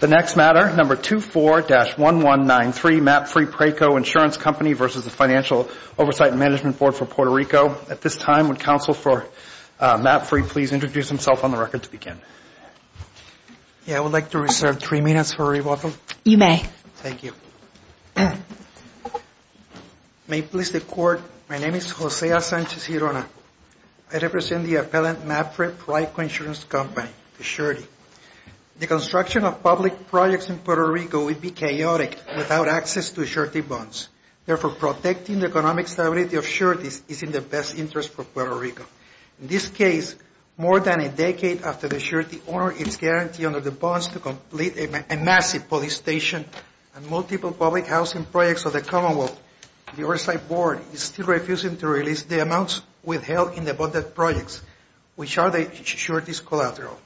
The next matter, No. 24-1193, MAPFRE-PRAICO Insurance Company v. Financial Oversight and Management Board for Puerto Rico. At this time, would counsel for MAPFRE please introduce himself on the record to begin? I would like to reserve three minutes for rebuttal. You may. Thank you. May it please the Court, my name is Jose A. Sanchez-Hirona. I represent the appellant MAPFRE-PRAICO Insurance Company, the surety. The construction of public projects in Puerto Rico would be chaotic without access to surety bonds. Therefore, protecting the economic stability of sureties is in the best interest for Puerto Rico. In this case, more than a decade after the surety ordered its guarantee under the bonds to complete a massive police station and multiple public housing projects of the Commonwealth, the Oversight Board is still refusing to release the amounts withheld in the bonded projects, which are the surety's collateral.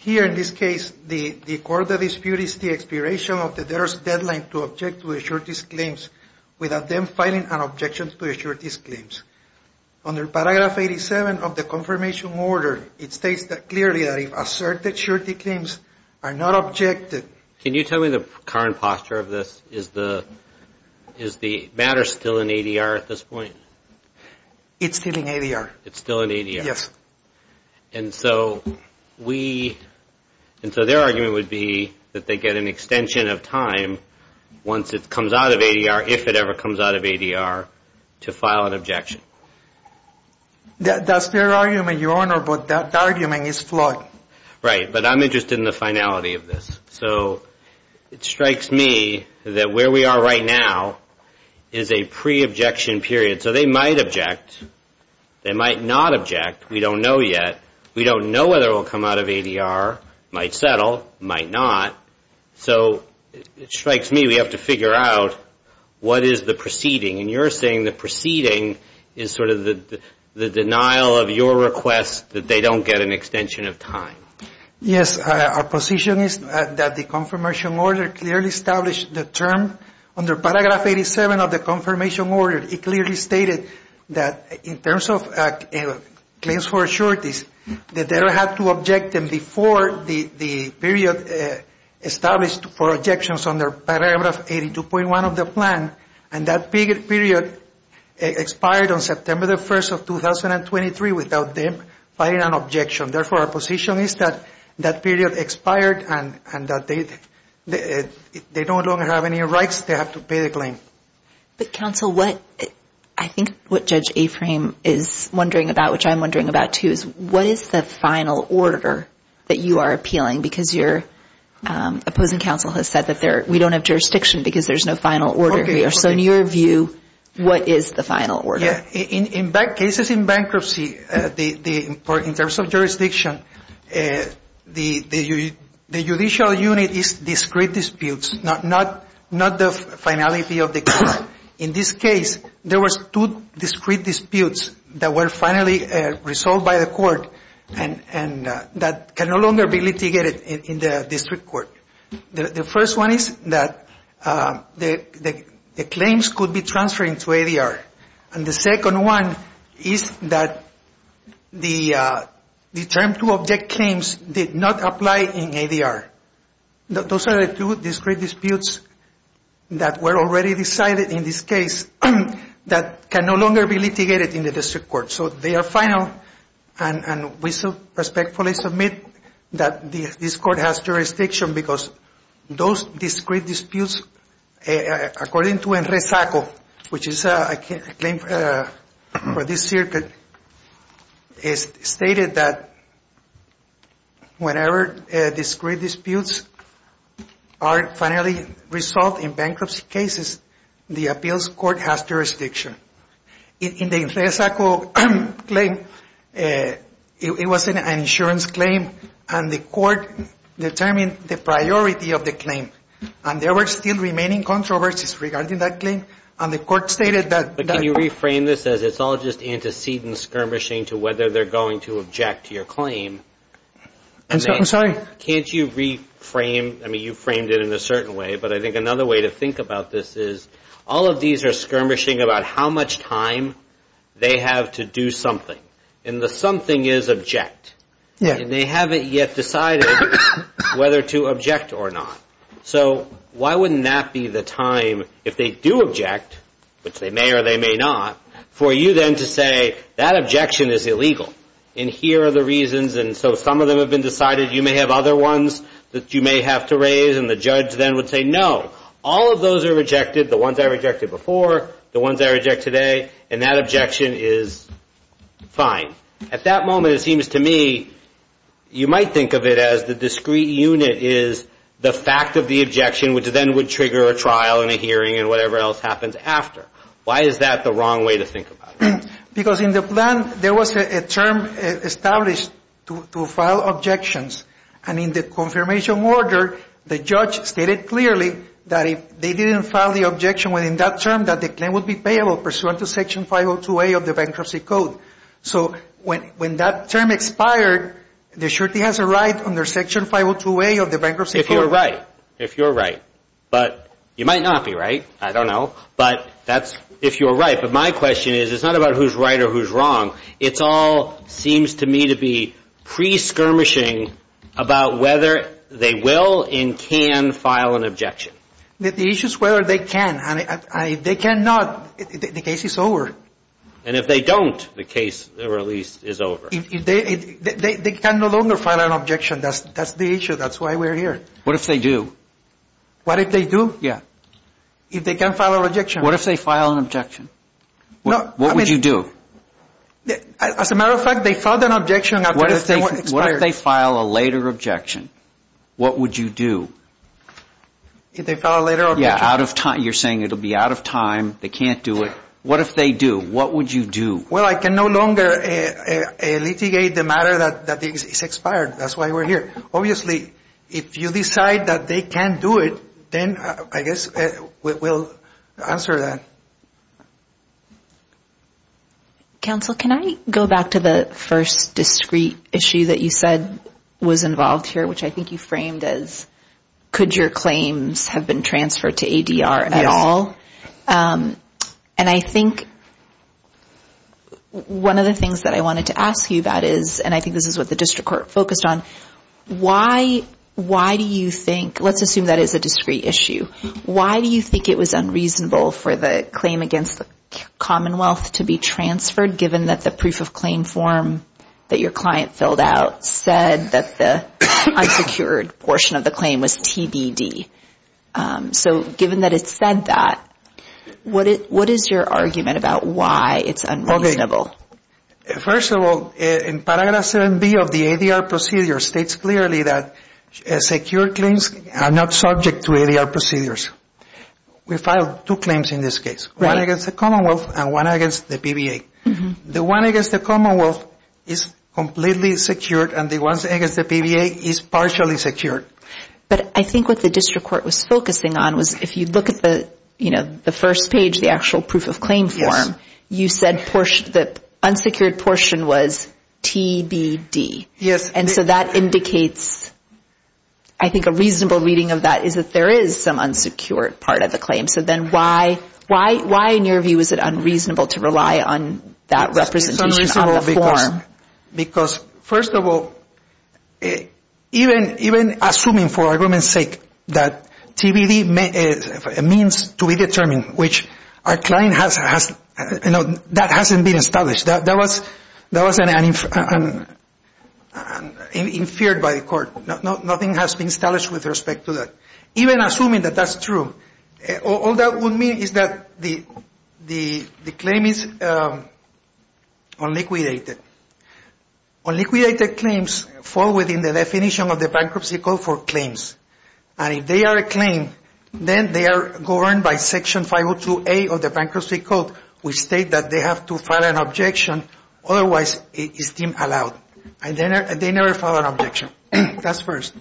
Here in this case, the court of dispute is the expiration of the debtor's deadline to object to the surety's claims without them filing an objection to the surety's claims. Under paragraph 87 of the confirmation order, it states clearly that if asserted surety claims are not objected Can you tell me the current posture of this? Is the matter still in ADR at this point? It's still in ADR. It's still in ADR. And so their argument would be that they get an extension of time once it comes out of ADR, if it ever comes out of ADR, to file an objection. That's their argument, Your Honor, but that argument is flawed. Right, but I'm interested in the finality of this. So it strikes me that where we are right now is a pre-objection period. So they might object. They might not object. We don't know yet. We don't know whether it will come out of ADR, might settle, might not. So it strikes me we have to figure out what is the proceeding. And you're saying the proceeding is sort of the denial of your request that they don't get an extension of time. Yes. Our position is that the confirmation order clearly established the term. Under paragraph 87 of the confirmation order, it clearly stated that in terms of claims for a surety, that they have to object them before the period established for objections under paragraph 82.1 of the plan. And that period expired on September the 1st of 2023 without them filing an objection. Therefore, our position is that that period expired and that they don't have any rights. They have to pay the claim. But, counsel, I think what Judge Aframe is wondering about, which I'm wondering about too, is what is the final order that you are appealing? Because your opposing counsel has said that we don't have jurisdiction because there's no final order here. So in your view, what is the final order? In cases in bankruptcy, in terms of jurisdiction, the judicial unit is discrete disputes, not the finality of the case. In this case, there was two discrete disputes that were finally resolved by the court and that can no longer be litigated in the district court. The first one is that the claims could be transferred into ADR. And the second one is that the term to object claims did not apply in ADR. Those are the two discrete disputes that were already decided in this case that can no longer be litigated in the district court. So they are final and we respectfully submit that this court has jurisdiction because those discrete disputes, according to ENRESACO, which is a claim for this circuit, it's stated that whenever discrete disputes are finally resolved in bankruptcy cases, the appeals court has jurisdiction. In the ENRESACO claim, it was an insurance claim, and the court determined the priority of the claim. And there were still remaining controversies regarding that claim. And the court stated that the ---- But can you reframe this as it's all just antecedent skirmishing to whether they're going to object to your claim? I'm sorry? Can't you reframe? I mean, you framed it in a certain way. But I think another way to think about this is all of these are skirmishing about how much time they have to do something. And the something is object. And they haven't yet decided whether to object or not. So why wouldn't that be the time, if they do object, which they may or they may not, for you then to say that objection is illegal and here are the reasons. And so some of them have been decided. You may have other ones that you may have to raise. And the judge then would say, no, all of those are rejected, the ones I rejected before, the ones I reject today. And that objection is fine. At that moment, it seems to me you might think of it as the discrete unit is the fact of the objection, which then would trigger a trial and a hearing and whatever else happens after. Why is that the wrong way to think about it? Because in the plan, there was a term established to file objections. And in the confirmation order, the judge stated clearly that if they didn't file the objection within that term, that the claim would be payable pursuant to Section 502A of the Bankruptcy Code. So when that term expired, the surety has a right under Section 502A of the Bankruptcy Code. If you're right. If you're right. But you might not be right. I don't know. But that's if you're right. But my question is, it's not about who's right or who's wrong. It all seems to me to be pre-skirmishing about whether they will and can file an objection. The issue is whether they can. And if they cannot, the case is over. And if they don't, the case, or at least, is over. They can no longer file an objection. That's the issue. That's why we're here. What if they do? What if they do? Yeah. If they can't file an objection. What if they file an objection? What would you do? As a matter of fact, they filed an objection. What if they file a later objection? What would you do? If they file a later objection? Yeah, out of time. You're saying it will be out of time. They can't do it. What if they do? What would you do? Well, I can no longer litigate the matter that is expired. That's why we're here. Obviously, if you decide that they can't do it, then I guess we'll answer that. Counsel, can I go back to the first discreet issue that you said was involved here, which I think you framed as could your claims have been transferred to ADR at all? Yes. And I think one of the things that I wanted to ask you about is, and I think this is what the district court focused on, why do you think, let's assume that is a discreet issue, why do you think it was unreasonable for the claim against the Commonwealth to be transferred given that the proof of claim form that your client filled out said that the unsecured portion of the claim was TBD? So given that it said that, what is your argument about why it's unreasonable? First of all, in Paragraph 7B of the ADR procedure states clearly that secure claims are not subject to ADR procedures. We filed two claims in this case, one against the Commonwealth and one against the PBA. The one against the Commonwealth is completely secured and the one against the PBA is partially secured. But I think what the district court was focusing on was if you look at the first page, the actual proof of claim form, you said the unsecured portion was TBD. Yes. And so that indicates, I think a reasonable reading of that is that there is some unsecured part of the claim. So then why in your view is it unreasonable to rely on that representation on the form? It's unreasonable because first of all, even assuming for argument's sake that TBD means to be determined, which that hasn't been established. That was inferred by the court. Nothing has been established with respect to that. Even assuming that that's true, all that would mean is that the claim is unliquidated. Unliquidated claims fall within the definition of the Bankruptcy Code for claims. And if they are a claim, then they are governed by Section 502A of the Bankruptcy Code, which states that they have to file an objection. Otherwise, it is deemed allowed. And they never file an objection. That's first.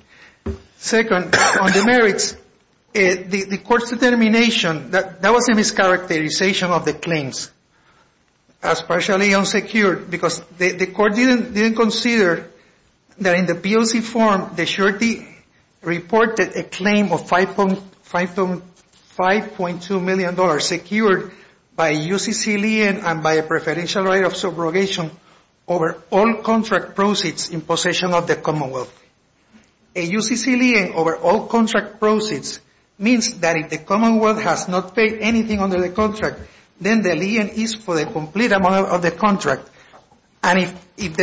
Second, on the merits, the court's determination, that was a mischaracterization of the claims as partially unsecured because the court didn't consider that in the POC form, the surety reported a claim of $5.2 million secured by a UCC lien and by a preferential right of subrogation over all contract proceeds in possession of the Commonwealth. A UCC lien over all contract proceeds means that if the Commonwealth has not paid anything under the contract, then the lien is for the complete amount of the contract. And if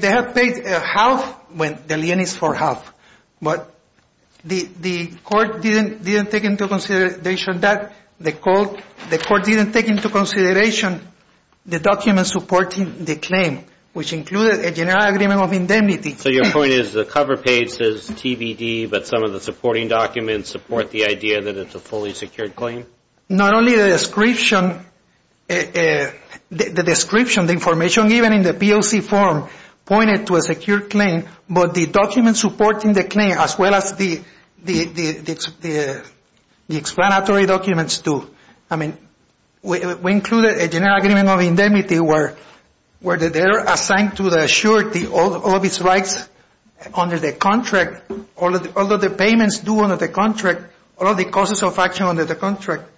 they have paid half, the lien is for half. But the court didn't take into consideration that. The court didn't take into consideration the documents supporting the claim, which included a general agreement of indemnity. So your point is the cover page says TBD, but some of the supporting documents support the idea that it's a fully secured claim? Not only the description, the description, the information given in the POC form pointed to a secured claim, but the documents supporting the claim as well as the explanatory documents do. I mean, we included a general agreement of indemnity where they're assigned to the surety all of its rights under the contract, all of the payments due under the contract, all of the causes of action under the contract.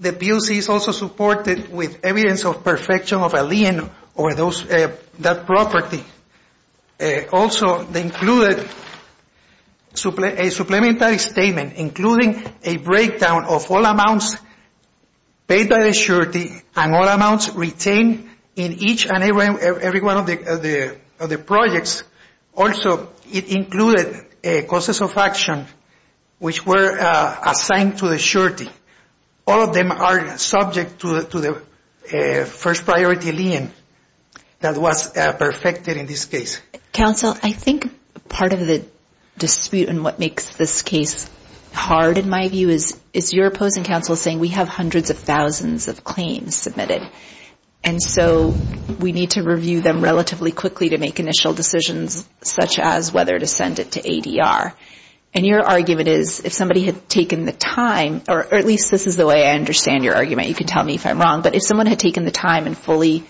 The POC is also supported with evidence of perfection of a lien over that property. Also, they included a supplementary statement including a breakdown of all amounts paid by the surety and all amounts retained in each and every one of the projects. Also, it included causes of action which were assigned to the surety. All of them are subject to the first priority lien that was perfected in this case. Counsel, I think part of the dispute and what makes this case hard in my view is your opposing counsel saying we have hundreds of thousands of claims submitted. And so we need to review them relatively quickly to make initial decisions such as whether to send it to ADR. And your argument is if somebody had taken the time, or at least this is the way I understand your argument. You can tell me if I'm wrong, but if someone had taken the time and fully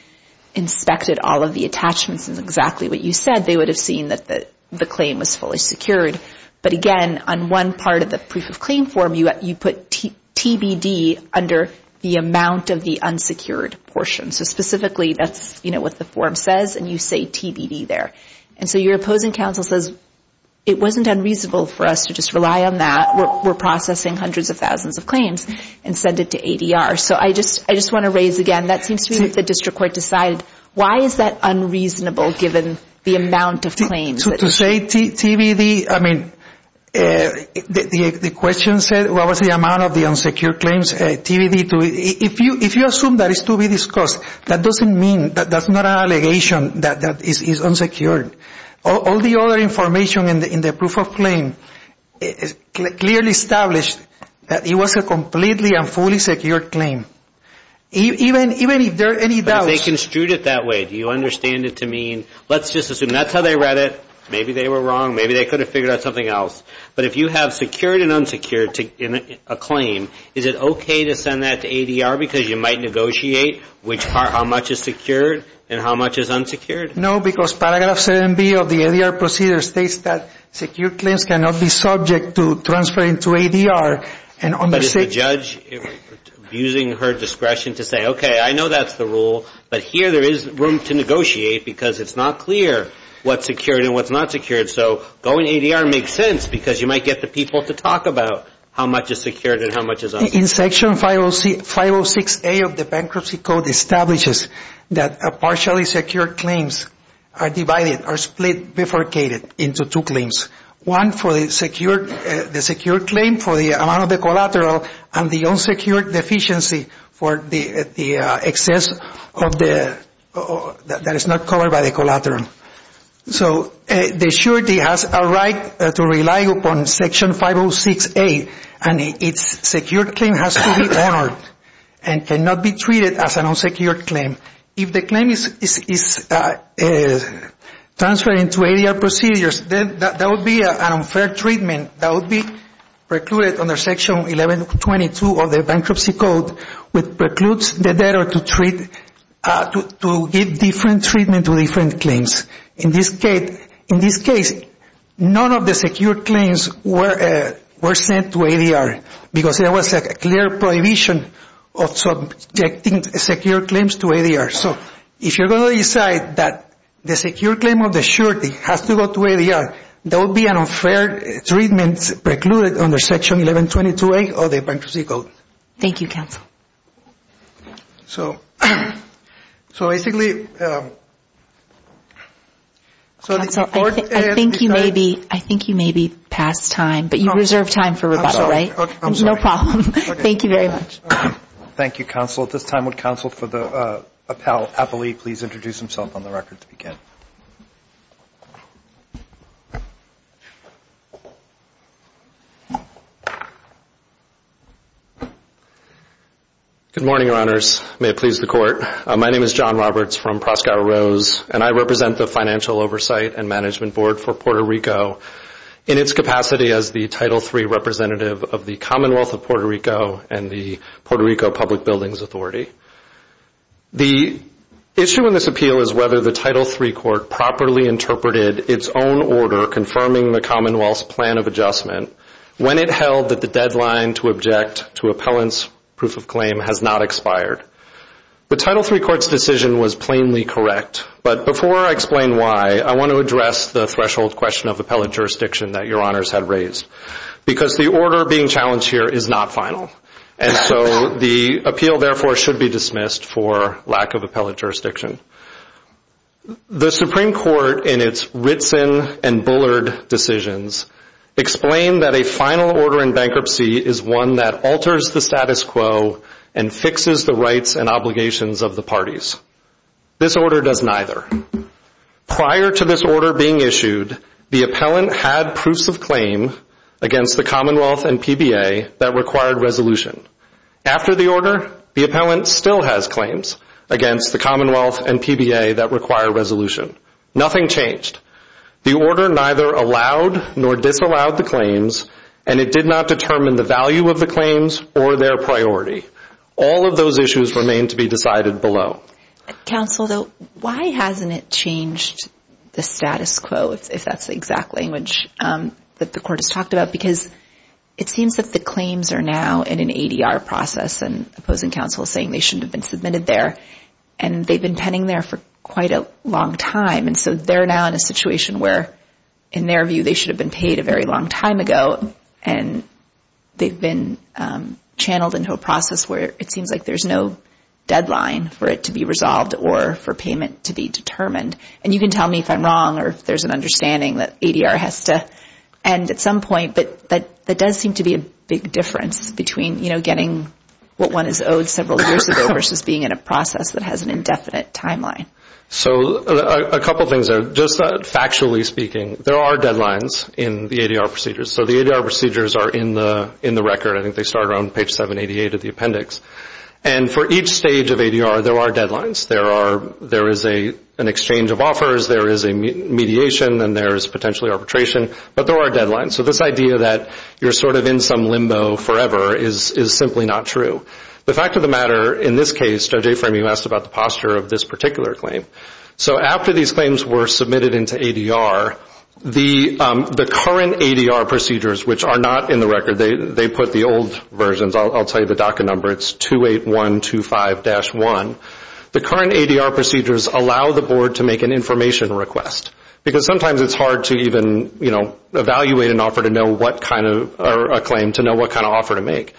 inspected all of the attachments and exactly what you said, they would have seen that the claim was fully secured. But again, on one part of the proof of claim form, you put TBD under the amount of the unsecured portion. So specifically, that's what the form says and you say TBD there. And so your opposing counsel says it wasn't unreasonable for us to just rely on that. We're processing hundreds of thousands of claims and send it to ADR. So I just want to raise again, that seems to me that the district court decided why is that unreasonable given the amount of claims? To say TBD, I mean, the question said what was the amount of the unsecured claims, TBD. If you assume that is to be discussed, that doesn't mean, that's not an allegation that is unsecured. All the other information in the proof of claim clearly established that it was a completely and fully secured claim. Even if there are any doubts. They construed it that way. Do you understand it to mean, let's just assume that's how they read it. Maybe they were wrong. Maybe they could have figured out something else. But if you have secured and unsecured a claim, is it okay to send that to ADR because you might negotiate how much is secured and how much is unsecured? No, because paragraph 7B of the ADR procedure states that secured claims cannot be subject to transferring to ADR. But is the judge abusing her discretion to say, okay, I know that's the rule. But here there is room to negotiate because it's not clear what's secured and what's not secured. So going to ADR makes sense because you might get the people to talk about how much is secured and how much is unsecured. In section 506A of the bankruptcy code establishes that partially secured claims are divided, are split, bifurcated into two claims. One for the secured claim for the amount of the collateral and the unsecured deficiency for the excess that is not covered by the collateral. So the surety has a right to rely upon section 506A and its secured claim has to be honored and cannot be treated as an unsecured claim. If the claim is transferring to ADR procedures, then that would be an unfair treatment that would be precluded under section 1122 of the bankruptcy code which precludes the debtor to give different treatment to different claims. In this case, none of the secured claims were sent to ADR because there was a clear prohibition of subjecting secured claims to ADR. So if you're going to decide that the secured claim of the surety has to go to ADR, that would be an unfair treatment precluded under section 1122A of the bankruptcy code. Thank you, counsel. So basically... Counsel, I think you may be past time, but you reserve time for rebuttal, right? I'm sorry. No problem. Thank you very much. Thank you, counsel. At this time, would counsel for the appellee please introduce himself on the record to begin? Good morning, your honors. May it please the court. My name is John Roberts from Proscow Rose, and I represent the Financial Oversight and Management Board for Puerto Rico in its capacity as the Title III representative of the Commonwealth of Puerto Rico and the Puerto Rico Public Buildings Authority. The issue in this appeal is whether the Title III court properly interpreted its own order confirming the Commonwealth's plan of adjustment when it held that the deadline to object to appellant's proof of claim has not expired. The Title III court's decision was plainly correct, but before I explain why, I want to address the threshold question of appellant jurisdiction that your honors had raised because the order being challenged here is not final, and so the appeal therefore should be dismissed for lack of appellant jurisdiction. The Supreme Court, in its Ritson and Bullard decisions, explained that a final order in bankruptcy is one that alters the status quo and fixes the rights and obligations of the parties. This order does neither. Prior to this order being issued, the appellant had proofs of claim against the Commonwealth and PBA that required resolution. After the order, the appellant still has claims against the Commonwealth and PBA that require resolution. Nothing changed. The order neither allowed nor disallowed the claims, and it did not determine the value of the claims or their priority. All of those issues remain to be decided below. Counsel, though, why hasn't it changed the status quo, if that's the exact language that the court has talked about? Because it seems that the claims are now in an ADR process, and opposing counsel is saying they shouldn't have been submitted there, and they've been penning there for quite a long time, and so they're now in a situation where, in their view, they should have been paid a very long time ago, and they've been channeled into a process where it seems like there's no deadline for it to be resolved or for payment to be determined. And you can tell me if I'm wrong or if there's an understanding that ADR has to end at some point, but that does seem to be a big difference between getting what one is owed several years ago versus being in a process that has an indefinite timeline. So a couple things there. Just factually speaking, there are deadlines in the ADR procedures. So the ADR procedures are in the record. I think they start around page 788 of the appendix. And for each stage of ADR, there are deadlines. There is an exchange of offers. There is a mediation, and there is potentially arbitration, but there are deadlines. So this idea that you're sort of in some limbo forever is simply not true. The fact of the matter in this case, Judge Aframe, you asked about the posture of this particular claim. So after these claims were submitted into ADR, the current ADR procedures, which are not in the record, they put the old versions. I'll tell you the DACA number. It's 28125-1. The current ADR procedures allow the board to make an information request because sometimes it's hard to even, you know, evaluate an offer to know what kind of a claim to know what kind of offer to make.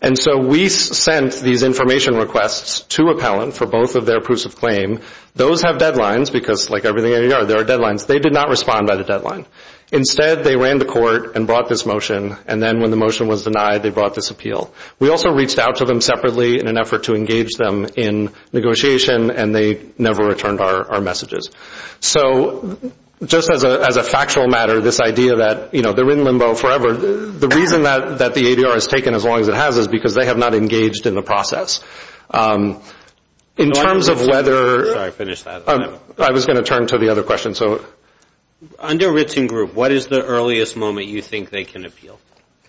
And so we sent these information requests to appellant for both of their proofs of claim. Those have deadlines because, like everything in ADR, there are deadlines. They did not respond by the deadline. Instead, they ran to court and brought this motion, and then when the motion was denied, they brought this appeal. We also reached out to them separately in an effort to engage them in negotiation, and they never returned our messages. So just as a factual matter, this idea that, you know, they're in limbo forever, the reason that the ADR has taken as long as it has is because they have not engaged in the process. In terms of whether – Sorry, finish that. I was going to turn to the other question. Under Ritson Group, what is the earliest moment you think they can appeal,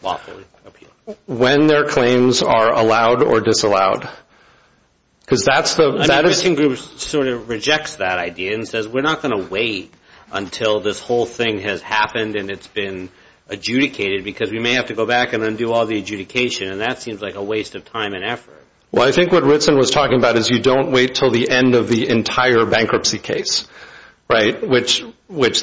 lawfully appeal? When their claims are allowed or disallowed because that's the – I mean, Ritson Group sort of rejects that idea and says, we're not going to wait until this whole thing has happened and it's been adjudicated because we may have to go back and undo all the adjudication, and that seems like a waste of time and effort. Well, I think what Ritson was talking about is you don't wait until the end of the entire bankruptcy case, right, which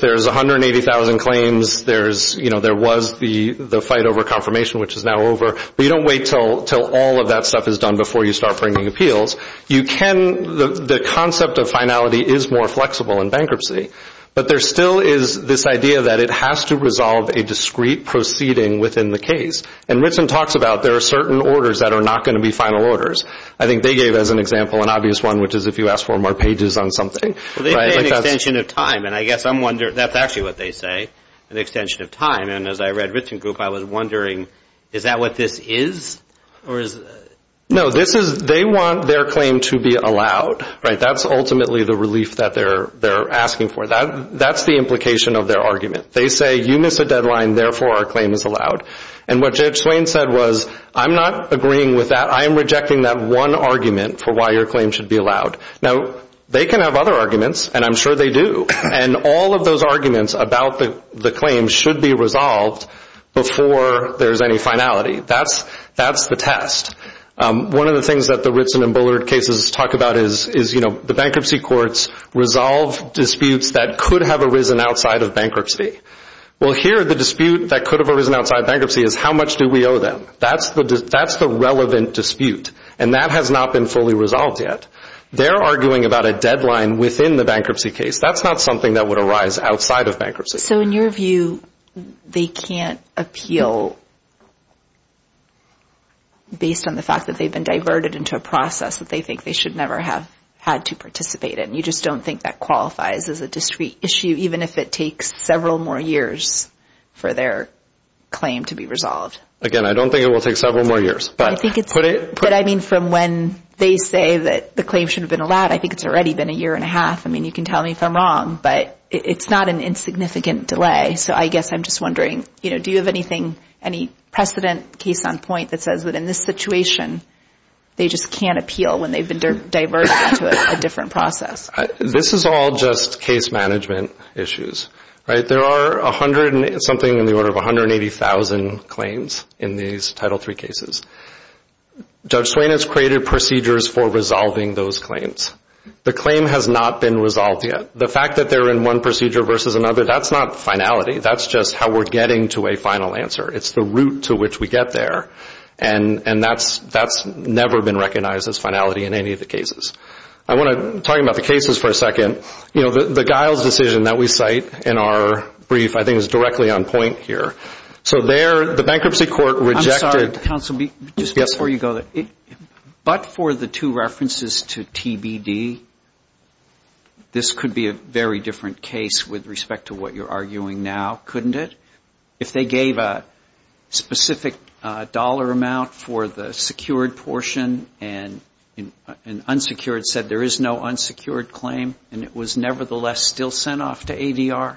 there's 180,000 claims, there was the fight over confirmation, which is now over, but you don't wait until all of that stuff is done before you start bringing appeals. You can – the concept of finality is more flexible in bankruptcy, but there still is this idea that it has to resolve a discrete proceeding within the case, and Ritson talks about there are certain orders that are not going to be final orders. I think they gave as an example an obvious one, which is if you ask for more pages on something. Well, they say an extension of time, and I guess I'm wondering – that's actually what they say, an extension of time. And as I read Ritson Group, I was wondering, is that what this is? No, this is – they want their claim to be allowed, right? That's ultimately the relief that they're asking for. That's the implication of their argument. They say, you missed a deadline, therefore our claim is allowed. And what Judge Swain said was, I'm not agreeing with that. I am rejecting that one argument for why your claim should be allowed. Now, they can have other arguments, and I'm sure they do, and all of those arguments about the claim should be resolved before there's any finality. That's the test. One of the things that the Ritson and Bullard cases talk about is, you know, the bankruptcy courts resolve disputes that could have arisen outside of bankruptcy. Well, here the dispute that could have arisen outside bankruptcy is how much do we owe them. That's the relevant dispute, and that has not been fully resolved yet. They're arguing about a deadline within the bankruptcy case. That's not something that would arise outside of bankruptcy. So in your view, they can't appeal based on the fact that they've been diverted into a process that they think they should never have had to participate in. You just don't think that qualifies as a discrete issue, even if it takes several more years for their claim to be resolved? Again, I don't think it will take several more years. But, I mean, from when they say that the claim should have been allowed, I think it's already been a year and a half. I mean, you can tell me if I'm wrong, but it's not an insignificant delay. So I guess I'm just wondering, you know, do you have anything, any precedent, case on point, that says that in this situation they just can't appeal when they've been diverted into a different process? This is all just case management issues, right? There are something in the order of 180,000 claims in these Title III cases. Judge Swain has created procedures for resolving those claims. The claim has not been resolved yet. The fact that they're in one procedure versus another, that's not finality. That's just how we're getting to a final answer. It's the route to which we get there. And that's never been recognized as finality in any of the cases. I want to talk about the cases for a second. You know, the Giles decision that we cite in our brief, I think, is directly on point here. So there the bankruptcy court rejected – I'm sorry, counsel, just before you go, but for the two references to TBD, this could be a very different case with respect to what you're arguing now, couldn't it? If they gave a specific dollar amount for the secured portion and unsecured said there is no unsecured claim, and it was nevertheless still sent off to ADR.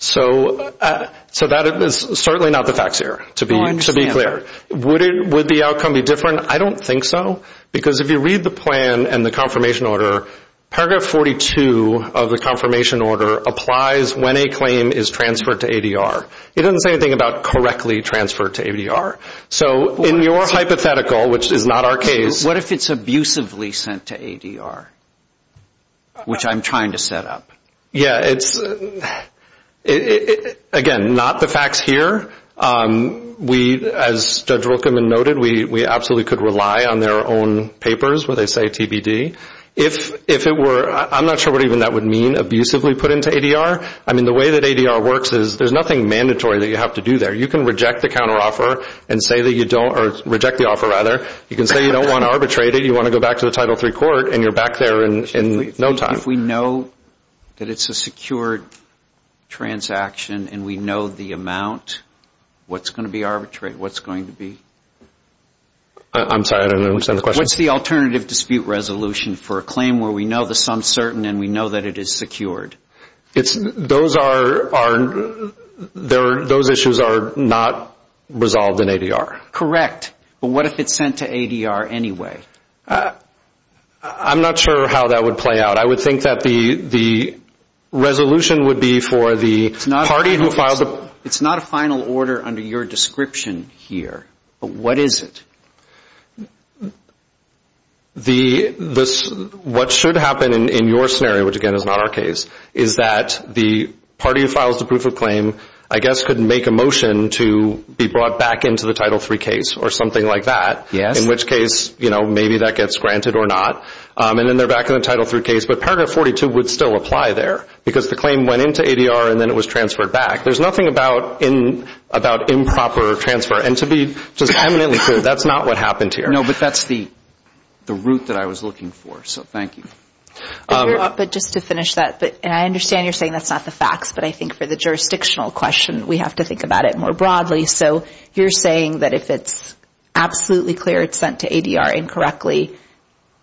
So that is certainly not the facts here, to be clear. Would the outcome be different? I don't think so, because if you read the plan and the confirmation order, paragraph 42 of the confirmation order applies when a claim is transferred to ADR. It doesn't say anything about correctly transferred to ADR. So in your hypothetical, which is not our case. What if it's abusively sent to ADR, which I'm trying to set up? Yeah, it's – again, not the facts here. We, as Judge Wilkeman noted, we absolutely could rely on their own papers where they say TBD. If it were – I'm not sure what even that would mean, abusively put into ADR. I mean, the way that ADR works is there's nothing mandatory that you have to do there. You can reject the counteroffer and say that you don't – or reject the offer, rather. You can say you don't want to arbitrate it, you want to go back to the Title III court, and you're back there in no time. If we know that it's a secured transaction and we know the amount, what's going to be arbitrated? What's going to be – I'm sorry, I don't understand the question. What's the alternative dispute resolution for a claim where we know the sum's certain and we know that it is secured? Those are – those issues are not resolved in ADR. Correct, but what if it's sent to ADR anyway? I'm not sure how that would play out. I would think that the resolution would be for the party who filed the – It's not a final order under your description here, but what is it? The – what should happen in your scenario, which, again, is not our case, is that the party who files the proof of claim, I guess, could make a motion to be brought back into the Title III case or something like that, in which case, you know, maybe that gets granted or not, and then they're back in the Title III case. But Paragraph 42 would still apply there because the claim went into ADR and then it was transferred back. There's nothing about improper transfer, and to be just eminently clear, that's not what happened here. No, but that's the route that I was looking for, so thank you. But just to finish that, and I understand you're saying that's not the facts, but I think for the jurisdictional question, we have to think about it more broadly. So you're saying that if it's absolutely clear it's sent to ADR incorrectly,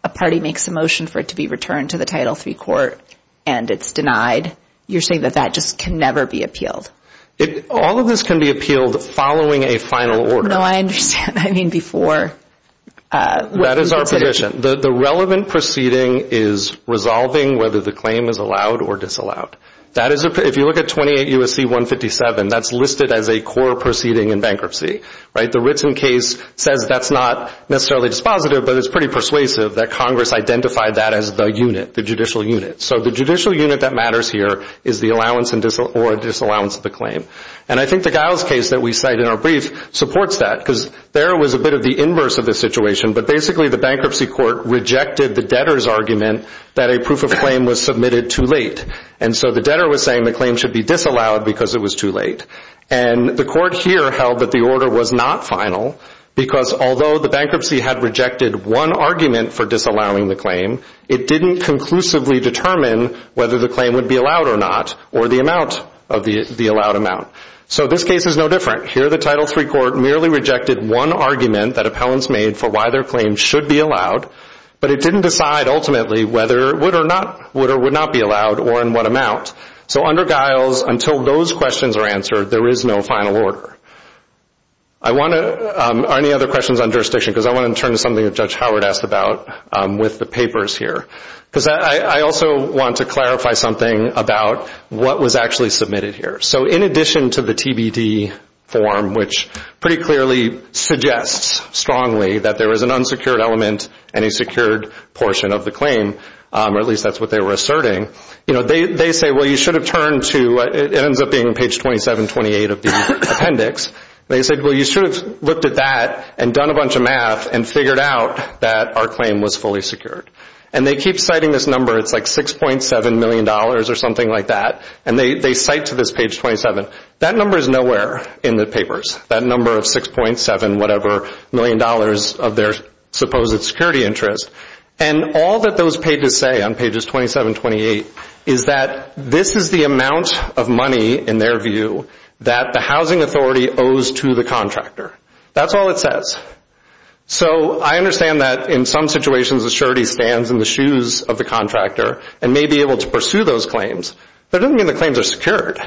a party makes a motion for it to be returned to the Title III court and it's denied. You're saying that that just can never be appealed. All of this can be appealed following a final order. No, I understand. I mean before. That is our position. The relevant proceeding is resolving whether the claim is allowed or disallowed. If you look at 28 U.S.C. 157, that's listed as a core proceeding in bankruptcy. The written case says that's not necessarily dispositive, but it's pretty persuasive that Congress identified that as the unit, the judicial unit. So the judicial unit that matters here is the allowance or disallowance of the claim. And I think the Giles case that we cite in our brief supports that because there was a bit of the inverse of the situation, but basically the bankruptcy court rejected the debtor's argument that a proof of claim was submitted too late. And so the debtor was saying the claim should be disallowed because it was too late. And the court here held that the order was not final because although the bankruptcy had rejected one argument for disallowing the claim, it didn't conclusively determine whether the claim would be allowed or not or the amount of the allowed amount. So this case is no different. Here the Title III court merely rejected one argument that appellants made for why their claim should be allowed, but it didn't decide ultimately whether it would or would not be allowed or in what amount. So under Giles, until those questions are answered, there is no final order. Are there any other questions on jurisdiction? Because I want to turn to something that Judge Howard asked about with the papers here. Because I also want to clarify something about what was actually submitted here. So in addition to the TBD form, which pretty clearly suggests strongly that there was an unsecured element and a secured portion of the claim, or at least that's what they were asserting, they say, well, you should have turned to, it ends up being page 2728 of the appendix. They said, well, you should have looked at that and done a bunch of math and figured out that our claim was fully secured. And they keep citing this number. It's like $6.7 million or something like that. And they cite to this page 27. That number is nowhere in the papers. That number of $6.7 million of their supposed security interest. And all that those pages say on pages 27 and 28 is that this is the amount of money, in their view, that the housing authority owes to the contractor. That's all it says. So I understand that in some situations a surety stands in the shoes of the contractor and may be able to pursue those claims. But it doesn't mean the claims are secured.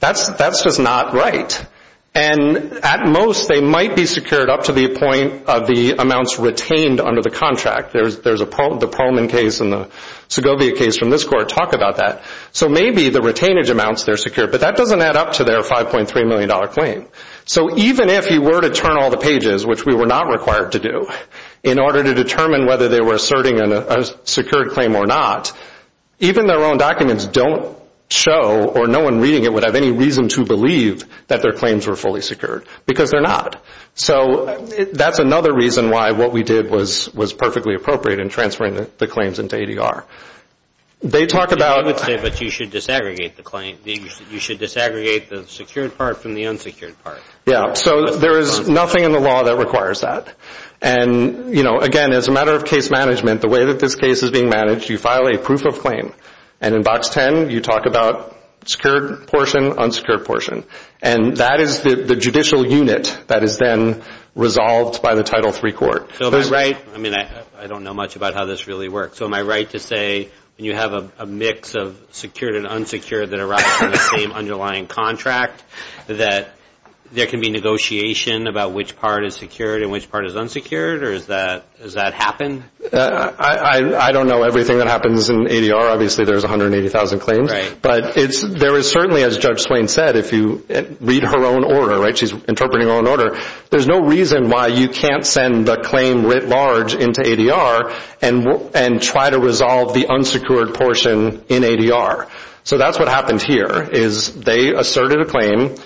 That's just not right. And at most they might be secured up to the point of the amounts retained under the contract. There's the Pearlman case and the Segovia case from this court talk about that. So maybe the retainage amounts, they're secured. But that doesn't add up to their $5.3 million claim. So even if you were to turn all the pages, which we were not required to do, in order to determine whether they were asserting a secured claim or not, even their own documents don't show or no one reading it would have any reason to believe that their claims were fully secured because they're not. So that's another reason why what we did was perfectly appropriate in transferring the claims into ADR. They talk about... But you should disaggregate the claim. You should disaggregate the secured part from the unsecured part. Yeah, so there is nothing in the law that requires that. And, you know, again, as a matter of case management, the way that this case is being managed, you file a proof of claim. And in Box 10, you talk about secured portion, unsecured portion. And that is the judicial unit that is then resolved by the Title III court. So am I right? I mean, I don't know much about how this really works. So am I right to say when you have a mix of secured and unsecured that arise from the same underlying contract, that there can be negotiation about which part is secured and which part is unsecured? Or does that happen? I don't know everything that happens in ADR. Obviously, there's 180,000 claims. But there is certainly, as Judge Swain said, if you read her own order, right? She's interpreting her own order. There's no reason why you can't send a claim writ large into ADR and try to resolve the unsecured portion in ADR. So that's what happened here is they asserted a claim,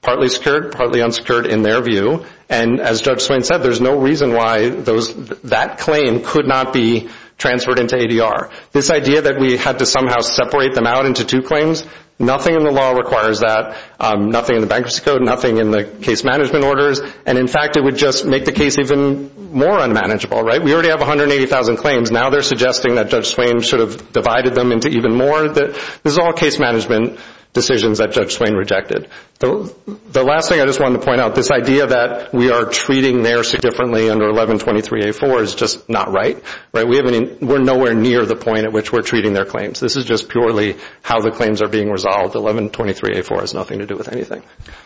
partly secured, partly unsecured in their view. And as Judge Swain said, there's no reason why that claim could not be transferred into ADR. This idea that we had to somehow separate them out into two claims, nothing in the law requires that, nothing in the Bankruptcy Code, nothing in the case management orders. And, in fact, it would just make the case even more unmanageable, right? We already have 180,000 claims. Now they're suggesting that Judge Swain should have divided them into even more. This is all case management decisions that Judge Swain rejected. The last thing I just wanted to point out, this idea that we are treating NAIRSA differently under 1123A4 is just not right. We're nowhere near the point at which we're treating their claims. This is just purely how the claims are being resolved. 1123A4 has nothing to do with anything.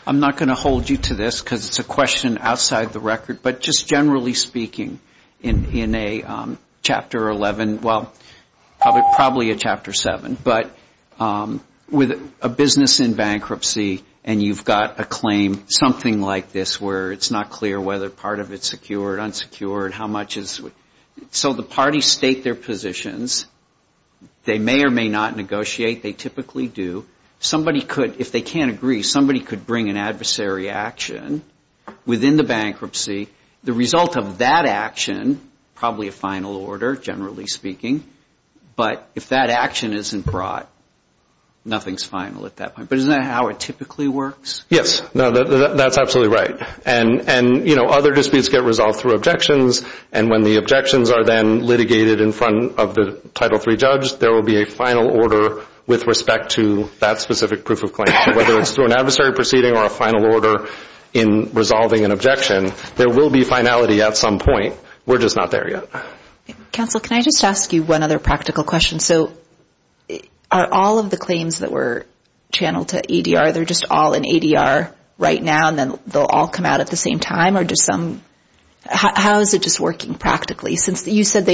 I'm not going to hold you to this because it's a question outside the record. But just generally speaking, in a Chapter 11, well, probably a Chapter 7, but with a business in bankruptcy and you've got a claim, something like this where it's not clear whether part of it's secured, unsecured, how much is, so the parties state their positions. They may or may not negotiate. They typically do. Somebody could, if they can't agree, somebody could bring an adversary action within the bankruptcy. The result of that action, probably a final order, generally speaking, but if that action isn't brought, nothing's final at that point. But isn't that how it typically works? Yes, that's absolutely right. And other disputes get resolved through objections, and when the objections are then litigated in front of the Title III judge, there will be a final order with respect to that specific proof of claim. Whether it's through an adversary proceeding or a final order in resolving an objection, there will be finality at some point. We're just not there yet. Counsel, can I just ask you one other practical question? So are all of the claims that were channeled to ADR, they're just all in ADR right now and then they'll all come out at the same time? Or does some, how is it just working practically? Since you said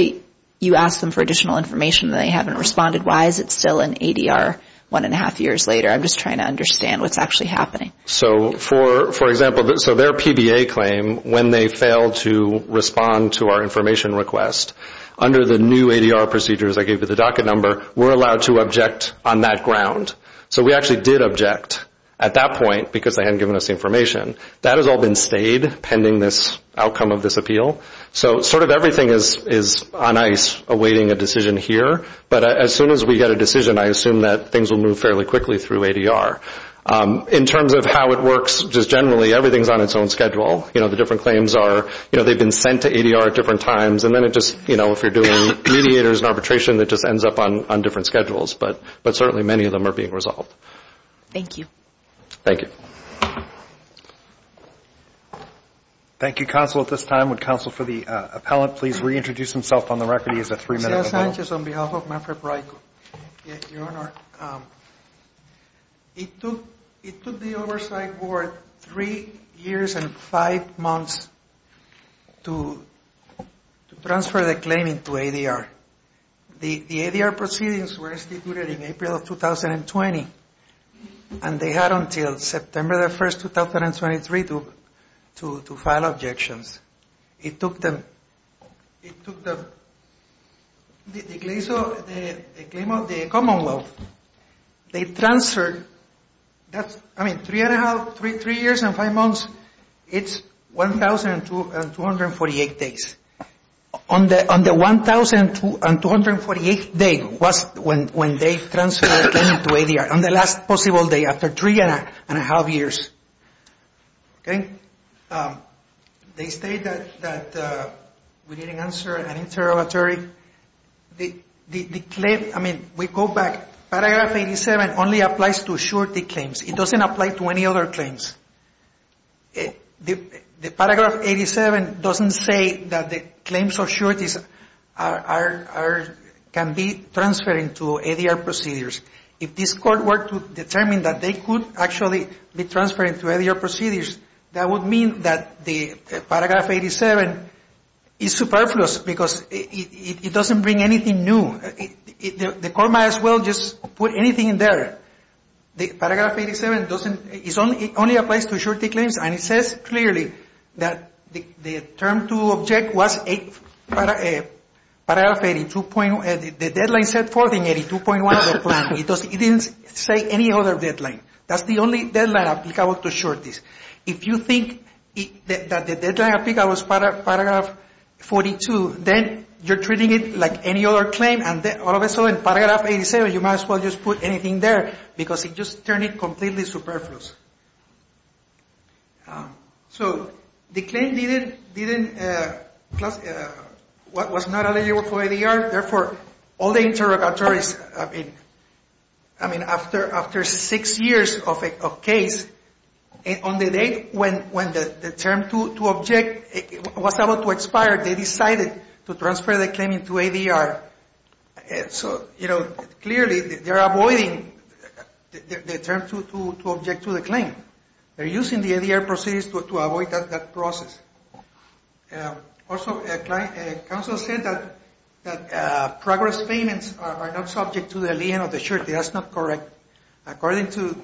you asked them for additional information and they haven't responded, why is it still in ADR one and a half years later? I'm just trying to understand what's actually happening. So for example, so their PBA claim, when they failed to respond to our information request, under the new ADR procedures I gave you the docket number, we're allowed to object on that ground. So we actually did object at that point because they hadn't given us the information. That has all been stayed pending this outcome of this appeal. So sort of everything is on ice awaiting a decision here, but as soon as we get a decision, I assume that things will move fairly quickly through ADR. In terms of how it works, just generally everything is on its own schedule. The different claims are, they've been sent to ADR at different times, and then it just, if you're doing mediators and arbitration, it just ends up on different schedules. But certainly many of them are being resolved. Thank you. Thank you. Thank you, Counsel. At this time, would Counsel for the Appellant please reintroduce himself on the record? He has a three-minute approval. Thank you, Mr. Sanchez, on behalf of Manfred Breiko. Your Honor, it took the Oversight Board three years and five months to transfer the claim into ADR. The ADR proceedings were instituted in April of 2020, and they had until September the 1st, 2023 to file objections. It took the claim of the Commonwealth, they transferred, I mean, three years and five months, it's 1,248 days. On the 1,248th day was when they transferred the claim to ADR, on the last possible day after three and a half years. Okay? They state that we didn't answer an interrogatory. The claim, I mean, we go back, Paragraph 87 only applies to surety claims. It doesn't apply to any other claims. The Paragraph 87 doesn't say that the claims of sureties can be transferred into ADR procedures. If this Court were to determine that they could actually be transferred into ADR procedures, that would mean that the Paragraph 87 is superfluous because it doesn't bring anything new. The Court might as well just put anything in there. The Paragraph 87 only applies to surety claims, and it says clearly that the term to object was Paragraph 82. The deadline set forth in 82.1 of the plan. It didn't say any other deadline. That's the only deadline applicable to sureties. If you think that the deadline applicable was Paragraph 42, then you're treating it like any other claim, and all of a sudden, Paragraph 87, you might as well just put anything there because it just turned it completely superfluous. So the claim was not eligible for ADR. Therefore, all the interrogatories, I mean, after six years of case, on the date when the term to object was about to expire, they decided to transfer the claim into ADR. So, you know, clearly, they're avoiding the term to object to the claim. They're using the ADR procedures to avoid that process. Also, counsel said that progress payments are not subject to the lien of the surety. That's not correct. According to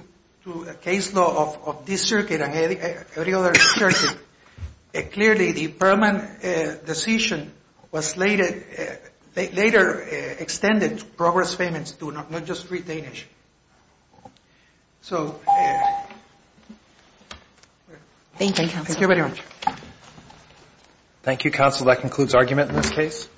the case law of this circuit and every other circuit, clearly the permanent decision was later extended to progress payments, not just retainers. So... Thank you, counsel. Thank you very much. Thank you, counsel. That concludes argument in this case.